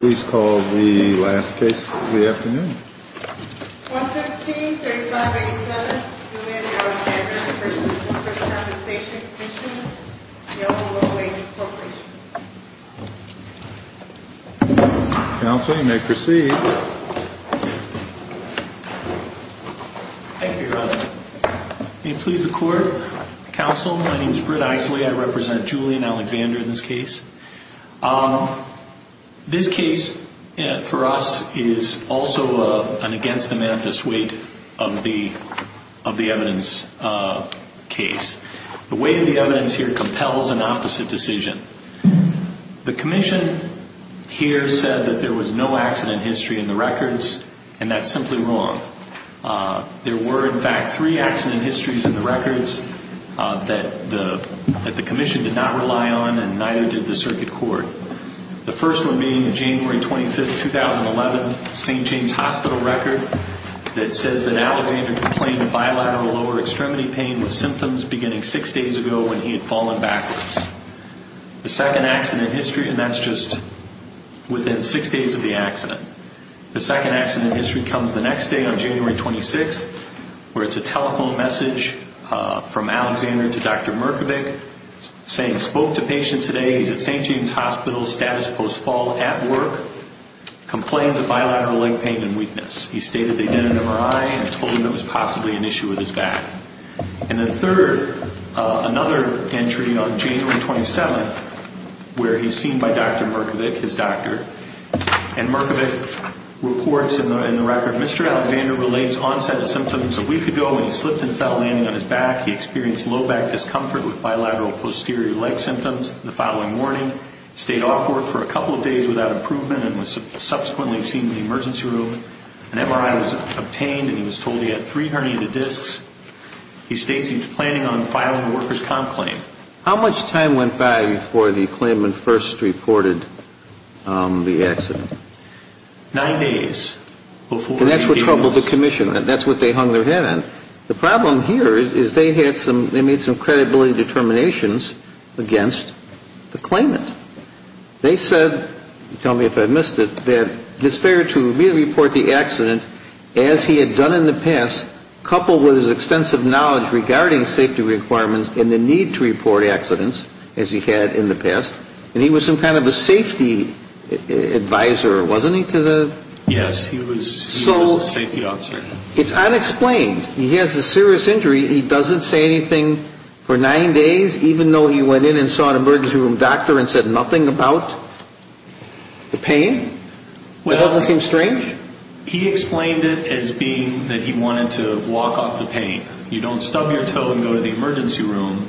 Please call the last case of the afternoon. 115-3587 Julian Alexander v. Workers' Compensation Commission, Yellowwood Way Corporation. Counsel, you may proceed. Thank you, Your Honor. May it please the Court? Counsel, my name is Britt Eisley. I represent Julian Alexander in this case. This case, for us, is also an against-the-manifest weight of the evidence case. The weight of the evidence here compels an opposite decision. The Commission here said that there was no accident history in the records, and that's simply wrong. There were, in fact, three accident histories in the records that the Commission did not rely on, and neither did the Circuit Court. The first one being January 25, 2011, St. James Hospital record that says that Alexander complained of bilateral lower extremity pain with symptoms beginning six days ago when he had fallen backwards. The second accident history, and that's just within six days of the accident. The second accident history comes the next day on January 26, where it's a telephone message from Alexander to Dr. Markovic saying, spoke to patient today. He's at St. James Hospital, status post-fall, at work. Complains of bilateral leg pain and weakness. He stated they did an MRI and told him it was possibly an issue with his back. And the third, another entry on January 27, where he's seen by Dr. Markovic, his doctor, and Markovic reports in the record, Mr. Alexander relates onset of symptoms a week ago when he slipped and fell, landing on his back. He experienced low back discomfort with bilateral posterior leg symptoms the following morning. Stayed off work for a couple of days without improvement and was subsequently seen in the emergency room. An MRI was obtained and he was told he had three herniated discs. He states he was planning on filing a worker's comp claim. How much time went by before the claimant first reported the accident? Nine days. And that's what troubled the Commission. That's what they hung their head on. The problem here is they had some, they made some credibility determinations against the claimant. They said, tell me if I missed it, that it's fair to report the accident as he had done in the past, coupled with his extensive knowledge regarding safety requirements and the need to report accidents, as he had in the past. And he was some kind of a safety advisor, wasn't he, to the? Yes, he was a safety officer. It's unexplained. He has a serious injury. He doesn't say anything for nine days, even though he went in and saw an emergency room doctor and said nothing about the pain? It doesn't seem strange? He explained it as being that he wanted to walk off the pain. You don't stub your toe and go to the emergency room.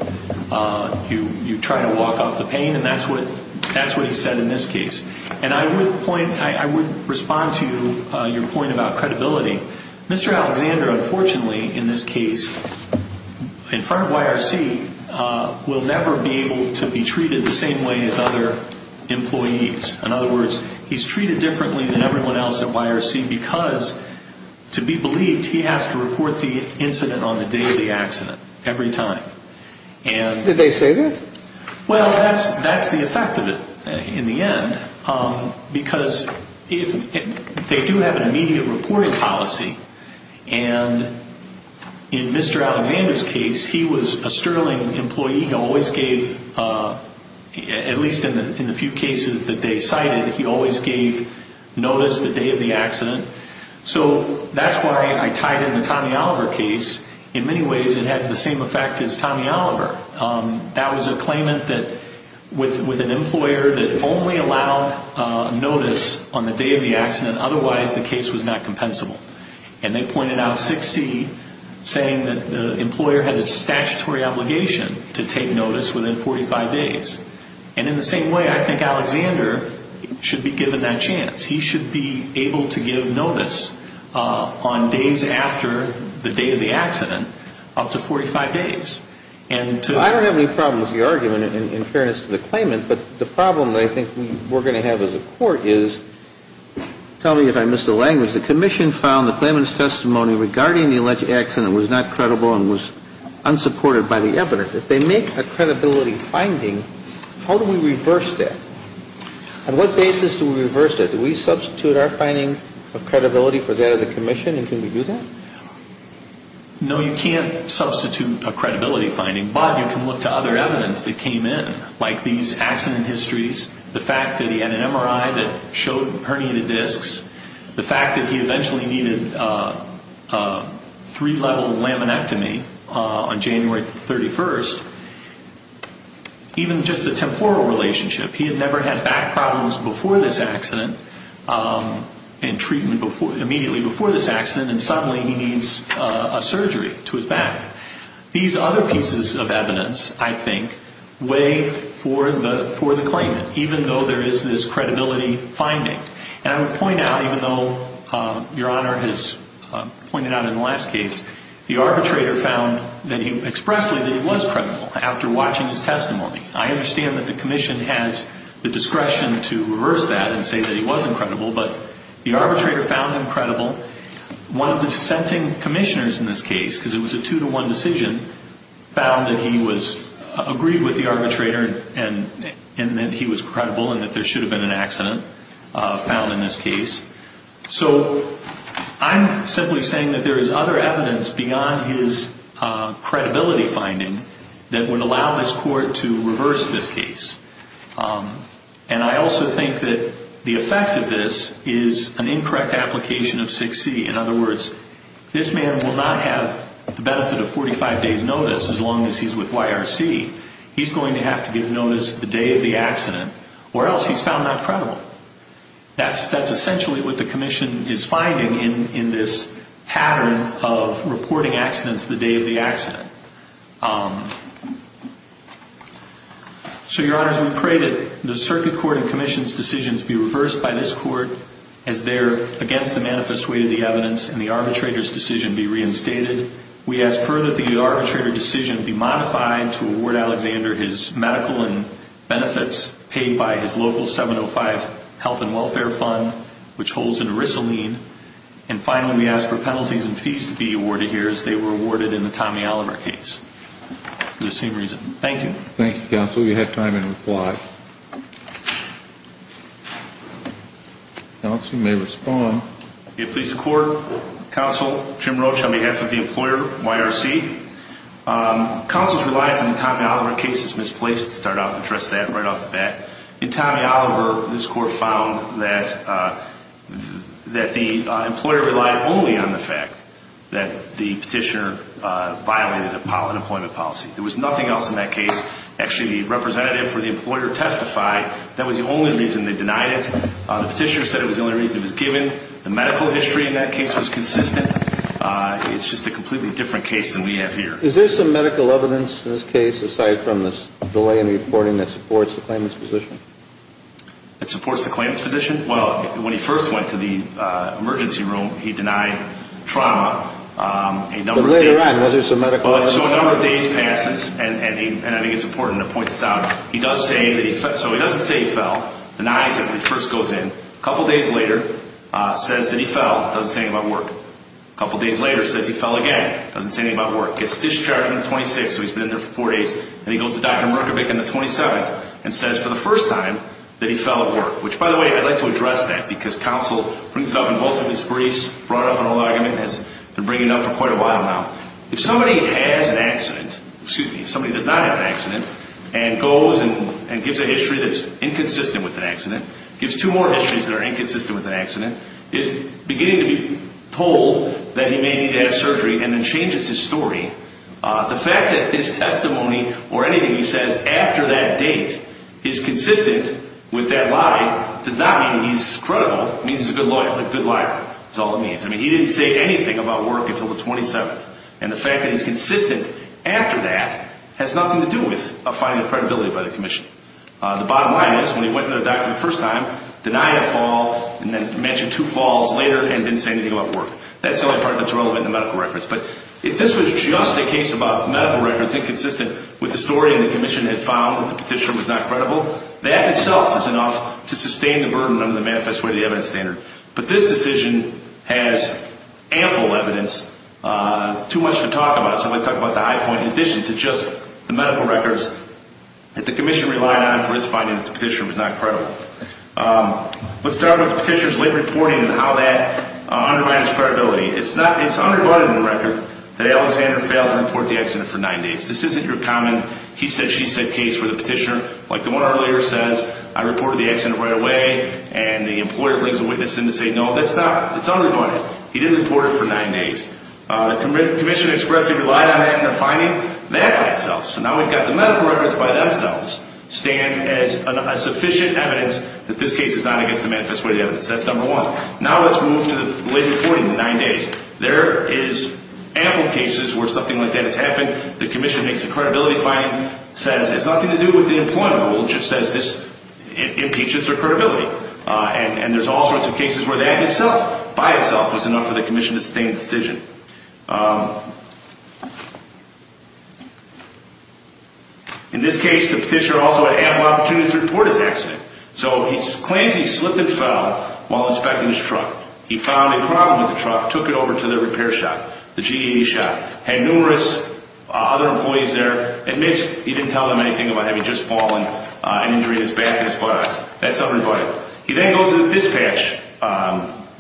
You try to walk off the pain, and that's what he said in this case. And I would point, I would respond to your point about credibility. Mr. Alexander, unfortunately, in this case, in front of YRC, will never be able to be treated the same way as other employees. In other words, he's treated differently than everyone else at YRC because, to be believed, he has to report the incident on the day of the accident every time. Did they say that? Well, that's the effect of it in the end because they do have an immediate reporting policy. And in Mr. Alexander's case, he was a Sterling employee. He always gave, at least in the few cases that they cited, he always gave notice the day of the accident. So that's why I tied in the Tommy Oliver case. In many ways, it has the same effect as Tommy Oliver. That was a claimant with an employer that only allowed notice on the day of the accident. Otherwise, the case was not compensable. And they pointed out 6C, saying that the employer has a statutory obligation to take notice within 45 days. And in the same way, I think Alexander should be given that chance. He should be able to give notice on days after the day of the accident up to 45 days. I don't have any problem with the argument in fairness to the claimant, but the problem I think we're going to have as a court is, tell me if I missed the language, the commission found the claimant's testimony regarding the alleged accident was not credible and was unsupported by the evidence. If they make a credibility finding, how do we reverse that? On what basis do we reverse that? Do we substitute our finding of credibility for that of the commission, and can we do that? No, you can't substitute a credibility finding, but you can look to other evidence that came in, like these accident histories, the fact that he had an MRI that showed herniated discs, the fact that he eventually needed a three-level laminectomy on January 31st. Even just a temporal relationship, he had never had back problems before this accident and treatment immediately before this accident, and suddenly he needs a surgery to his back. These other pieces of evidence, I think, weigh for the claimant, even though there is this credibility finding. And I would point out, even though Your Honor has pointed out in the last case, the arbitrator found expressly that he was credible after watching his testimony. I understand that the commission has the discretion to reverse that and say that he wasn't credible, but the arbitrator found him credible. One of the dissenting commissioners in this case, because it was a two-to-one decision, found that he agreed with the arbitrator and that he was credible and that there should have been an accident found in this case. So I'm simply saying that there is other evidence beyond his credibility finding that would allow this court to reverse this case. And I also think that the effect of this is an incorrect application of 6C. In other words, this man will not have the benefit of 45 days' notice as long as he's with YRC. He's going to have to get notice the day of the accident, or else he's found not credible. That's essentially what the commission is finding in this pattern of reporting accidents the day of the accident. So, Your Honors, we pray that the circuit court and commission's decisions be reversed by this court as they're against the manifest weight of the evidence and the arbitrator's decision be reinstated. We ask further that the arbitrator decision be modified to award Alexander his medical and benefits paid by his local 705 Health and Welfare Fund, which holds in Risolene. And finally, we ask for penalties and fees to be awarded here as they were awarded in the Tommy Oliver case. For the same reason. Thank you. Thank you, Counsel. You have time to reply. Counsel, you may respond. It pleases the court, Counsel Jim Roach, on behalf of the employer, YRC. Counsel's reliance on the Tommy Oliver case is misplaced. To start off, address that right off the bat. In Tommy Oliver, this court found that the employer relied only on the fact that the petitioner violated an employment policy. There was nothing else in that case. Actually, the representative for the employer testified that was the only reason they denied it. The petitioner said it was the only reason it was given. The medical history in that case was consistent. It's just a completely different case than we have here. Is there some medical evidence in this case, aside from this delay in reporting, that supports the claimant's position? It supports the claimant's position? Well, when he first went to the emergency room, he denied trauma. But later on, was there some medical evidence? So a number of days passes, and I think it's important to point this out. He does say that he fell. So he doesn't say he fell. Denies it when he first goes in. A couple days later, says that he fell. Doesn't say anything about work. A couple days later, says he fell again. Doesn't say anything about work. Gets discharged on the 26th, so he's been in there for four days. And he goes to Dr. Markovic on the 27th and says for the first time that he fell at work. Which, by the way, I'd like to address that, because counsel brings it up in both of his briefs. Brought up in an argument, has been bringing it up for quite a while now. If somebody has an accident, excuse me, if somebody does not have an accident, and goes and gives a history that's inconsistent with an accident, gives two more histories that are inconsistent with an accident, is beginning to be told that he may need to have surgery, and then changes his story, the fact that his testimony or anything he says after that date is consistent with that lie does not mean that he's credible. It means he's a good lawyer, but a good liar is all it means. I mean, he didn't say anything about work until the 27th. And the fact that he's consistent after that has nothing to do with a finding of credibility by the commission. The bottom line is, when he went to the doctor the first time, denied a fall, and then mentioned two falls later, and didn't say anything about work. That's the only part that's relevant in the medical records. But if this was just a case about medical records inconsistent with the story the commission had found that the petitioner was not credible, that itself is enough to sustain the burden under the manifest way of the evidence standard. But this decision has ample evidence, too much to talk about. So let's talk about the high point in addition to just the medical records that the commission relied on for its finding that the petitioner was not credible. Let's start with the petitioner's late reporting and how that undermines credibility. It's underbunded in the record that Alexander failed to report the accident for nine days. This isn't your common he-said-she-said case for the petitioner. Like the one earlier says, I reported the accident right away, and the employer brings a witness in to say, no, that's underbunded. He didn't report it for nine days. The commission expressed it relied on that in the finding, that by itself. So now we've got the medical records by themselves stand as sufficient evidence that this case is not against the manifest way of the evidence. That's number one. Now let's move to the late reporting, the nine days. There is ample cases where something like that has happened. The commission makes a credibility finding, says it has nothing to do with the employer. Well, it just says this impeaches their credibility. And there's all sorts of cases where that in itself, by itself, was enough for the commission to sustain the decision. In this case, the petitioner also had ample opportunities to report his accident. So he claims he slipped and fell while inspecting his truck. He found a problem with the truck, took it over to the repair shop, the GED shop, had numerous other employees there, admits he didn't tell them anything about having just fallen, an injury to his back and his buttocks. That's underbunded. He then goes to the dispatch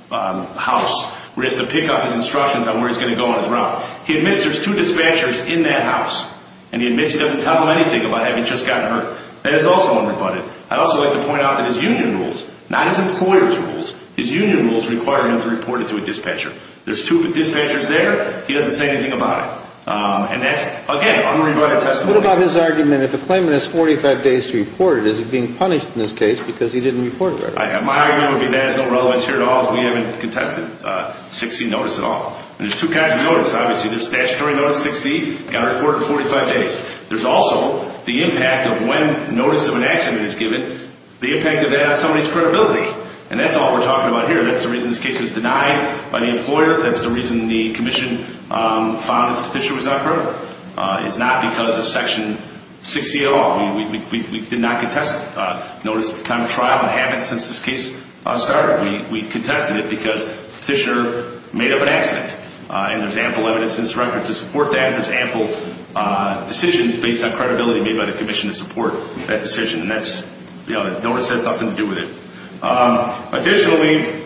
house where he has to pick up his instructions on where he's going to go on his route. He admits there's two dispatchers in that house, and he admits he doesn't tell them anything about having just gotten hurt. That is also underbunded. I'd also like to point out that his union rules, not his employer's rules, his union rules require him to report it to a dispatcher. There's two dispatchers there. He doesn't say anything about it. And that's, again, underbunded testimony. What about his argument that if a claimant has 45 days to report it, is he being punished in this case because he didn't report it? My argument would be that has no relevance here at all. We haven't contested 6C notice at all. And there's two kinds of notice, obviously. There's statutory notice 6C, got to report it in 45 days. There's also the impact of when notice of an accident is given, the impact of that on somebody's credibility. And that's all we're talking about here. That's the reason this case was denied by the employer. That's the reason the commission found that the petition was not credible. It's not because of Section 6C at all. We did not contest notice at the time of trial. We haven't since this case started. We contested it because the petitioner made up an accident. And there's ample evidence in this record to support that. There's ample decisions based on credibility made by the commission to support that decision. And that's, you know, the notice has nothing to do with it. Additionally, the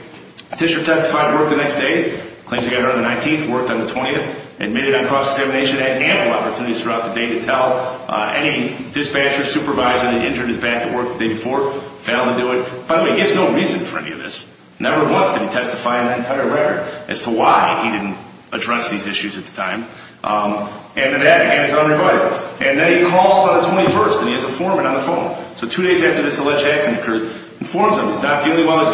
petitioner testified at work the next day, claims he got hurt on the 19th, worked on the 20th, admitted on cross-examination, had ample opportunities throughout the day to tell any dispatcher, supervisor that injured his back at work the day before, failed to do it. By the way, he has no reason for any of this. Never once did he testify in that entire record as to why he didn't address these issues at the time. And then that, again, is unrebutted. And then he calls on the 21st, and he has a foreman on the phone. So two days after this alleged accident occurs, informs him. He's not feeling well. He's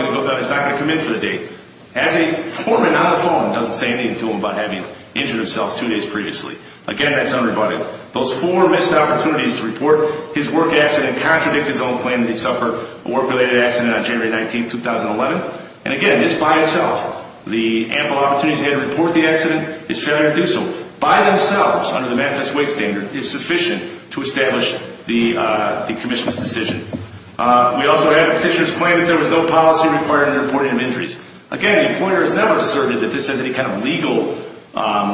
not going to come in for the day. Has a foreman on the phone. Does the same thing to him about having injured himself two days previously. Again, that's unrebutted. Those four missed opportunities to report his work accident contradict his own claim that he suffered a work-related accident on January 19, 2011. And, again, this by itself, the ample opportunities he had to report the accident, his failure to do so, by themselves, under the Memphis weight standard, is sufficient to establish the commission's decision. We also have the petitioner's claim that there was no policy required in reporting of injuries. Again, the employer has never asserted that this has any kind of legal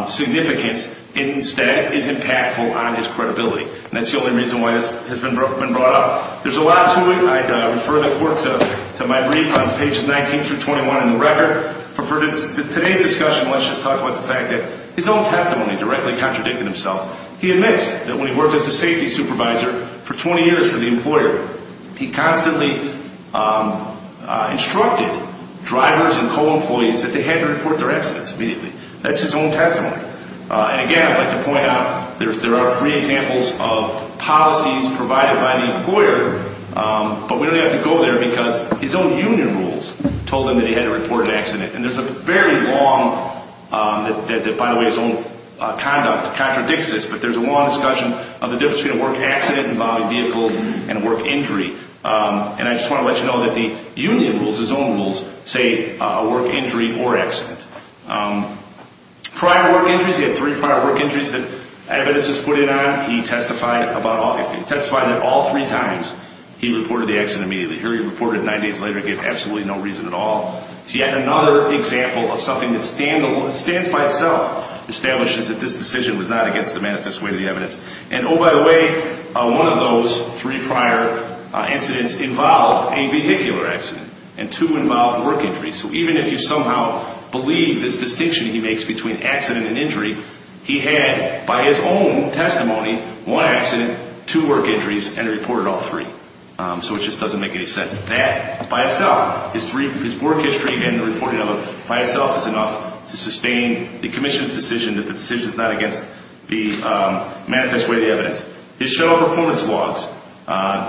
significance. It instead is impactful on his credibility. And that's the only reason why this has been brought up. There's a lot to it. I refer the court to my brief on pages 19 through 21 in the record. But for today's discussion, let's just talk about the fact that his own testimony directly contradicted himself. He admits that when he worked as a safety supervisor for 20 years for the employer, he constantly instructed drivers and co-employees that they had to report their accidents immediately. That's his own testimony. And, again, I'd like to point out there are three examples of policies provided by the employer, but we don't have to go there because his own union rules told him that he had to report an accident. And there's a very long, that, by the way, his own conduct contradicts this, but there's a long discussion of the difference between a work accident involving vehicles and a work injury. And I just want to let you know that the union rules, his own rules, say a work injury or accident. Prior work injuries, he had three prior work injuries that evidence was put in on. He testified at all three times. He reported the accident immediately. Here he reported it nine days later and gave absolutely no reason at all. Yet another example of something that stands by itself establishes that this decision was not against the manifest way of the evidence. And, oh, by the way, one of those three prior incidents involved a vehicular accident and two involved work injuries. So even if you somehow believe this distinction he makes between accident and injury, he had, by his own testimony, one accident, two work injuries, and reported all three. So it just doesn't make any sense. That, by itself, his work history and the reporting of it by itself is enough to sustain the commission's decision that the decision is not against the manifest way of the evidence. His show of performance logs,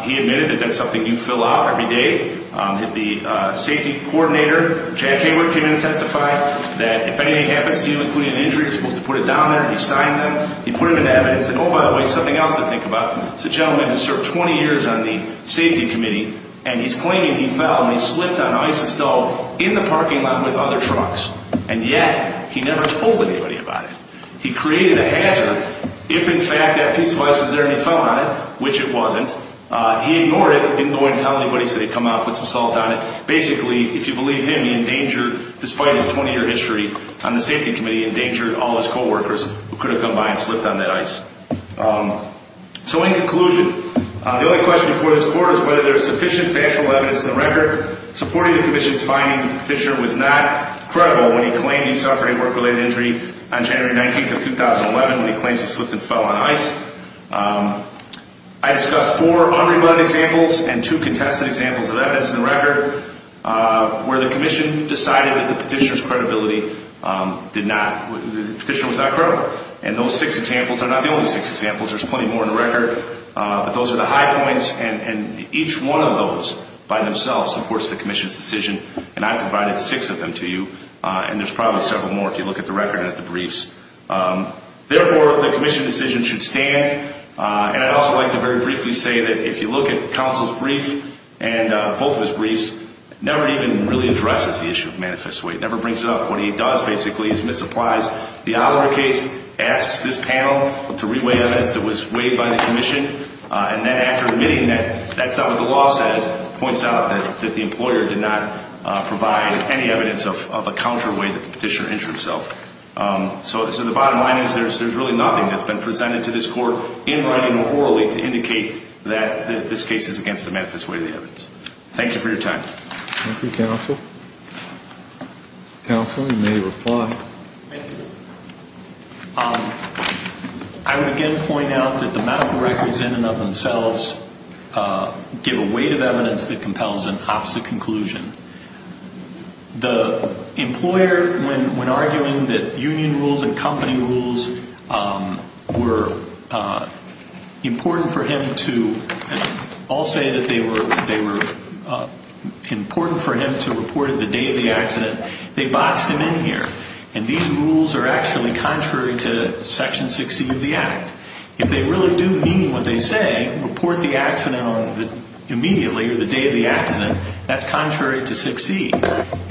he admitted that that's something you fill out every day. The safety coordinator, Jack Engler, came in and testified that if anything happens to you, including an injury, you're supposed to put it down there. He signed them. He put them into evidence. And, oh, by the way, something else to think about. It's a gentleman who served 20 years on the safety committee, and he's claiming he fell and he slipped on ice and fell in the parking lot with other trucks. And yet he never told anybody about it. He created a hazard if, in fact, that piece of ice was there and he fell on it, which it wasn't. He ignored it. He didn't go in and tell anybody. He said he'd come out and put some salt on it. Basically, if you believe him, he endangered, despite his 20-year history on the safety committee, he endangered all his co-workers who could have come by and slipped on that ice. So in conclusion, the only question before this court is whether there's sufficient factual evidence in the record. Supporting the commission's finding that the petitioner was not credible when he claimed he suffered a work-related injury on January 19th of 2011 when he claims he slipped and fell on ice, I discussed four unrebutted examples and two contested examples of evidence in the record where the commission decided that the petitioner's credibility did not, the petitioner was not credible. And those six examples are not the only six examples. There's plenty more in the record. But those are the high points, and each one of those by themselves supports the commission's decision, and I provided six of them to you. And there's probably several more if you look at the record and at the briefs. Therefore, the commission decision should stand. And I'd also like to very briefly say that if you look at counsel's brief and both his briefs, it never even really addresses the issue of manifest weight. It never brings up what he does, basically, his misapplies. The obituary case asks this panel to re-weight evidence that was weighed by the commission, and then after admitting that, that's not what the law says. It points out that the employer did not provide any evidence of a counterweight that the petitioner injured himself. So the bottom line is there's really nothing that's been presented to this court in writing or orally to indicate that this case is against the manifest weight of the evidence. Thank you for your time. Thank you, counsel. Counsel, you may reply. Thank you. I would again point out that the medical records in and of themselves give a weight of evidence that compels an opposite conclusion. The employer, when arguing that union rules and company rules were important for him to, and I'll say that they were important for him to report on the day of the accident, they boxed him in here. And these rules are actually contrary to Section 6C of the Act. If they really do mean what they say, report the accident immediately or the day of the accident, that's contrary to 6C.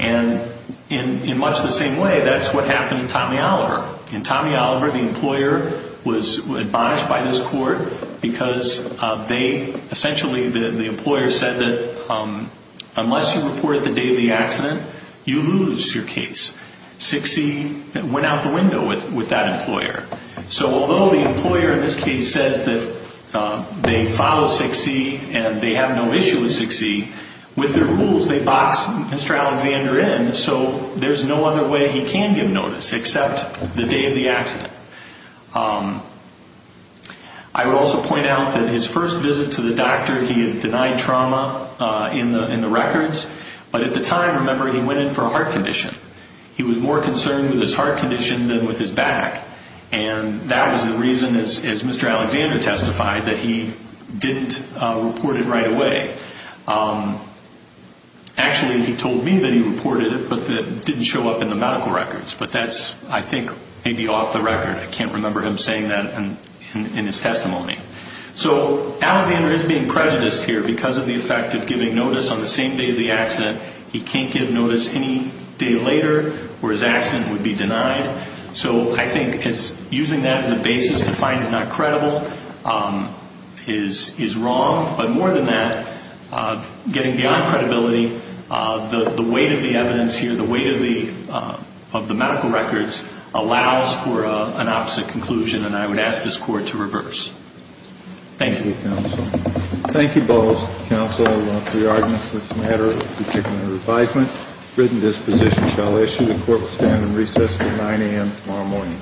And in much the same way, that's what happened to Tommy Oliver. In Tommy Oliver, the employer was admonished by this court because they essentially, the employer said that unless you report the day of the accident, you lose your case. 6C went out the window with that employer. So although the employer in this case says that they follow 6C and they have no issue with 6C, with their rules they boxed Mr. Alexander in, so there's no other way he can give notice except the day of the accident. I would also point out that his first visit to the doctor, he had denied trauma in the records, but at the time, remember, he went in for a heart condition. He was more concerned with his heart condition than with his back, and that was the reason, as Mr. Alexander testified, that he didn't report it right away. Actually, he told me that he reported it but that it didn't show up in the medical records, but that's, I think, maybe off the record. I can't remember him saying that in his testimony. So Alexander is being prejudiced here because of the effect of giving notice on the same day of the accident. He can't give notice any day later or his accident would be denied. So I think using that as a basis to find it not credible is wrong, but more than that, getting beyond credibility, the weight of the evidence here, the weight of the medical records allows for an opposite conclusion, and I would ask this Court to reverse. Thank you. Thank you, counsel. Thank you both, counsel, for your arguments in this matter, particularly the revisement. Written disposition shall issue. The Court will stand in recess until 9 a.m. tomorrow morning.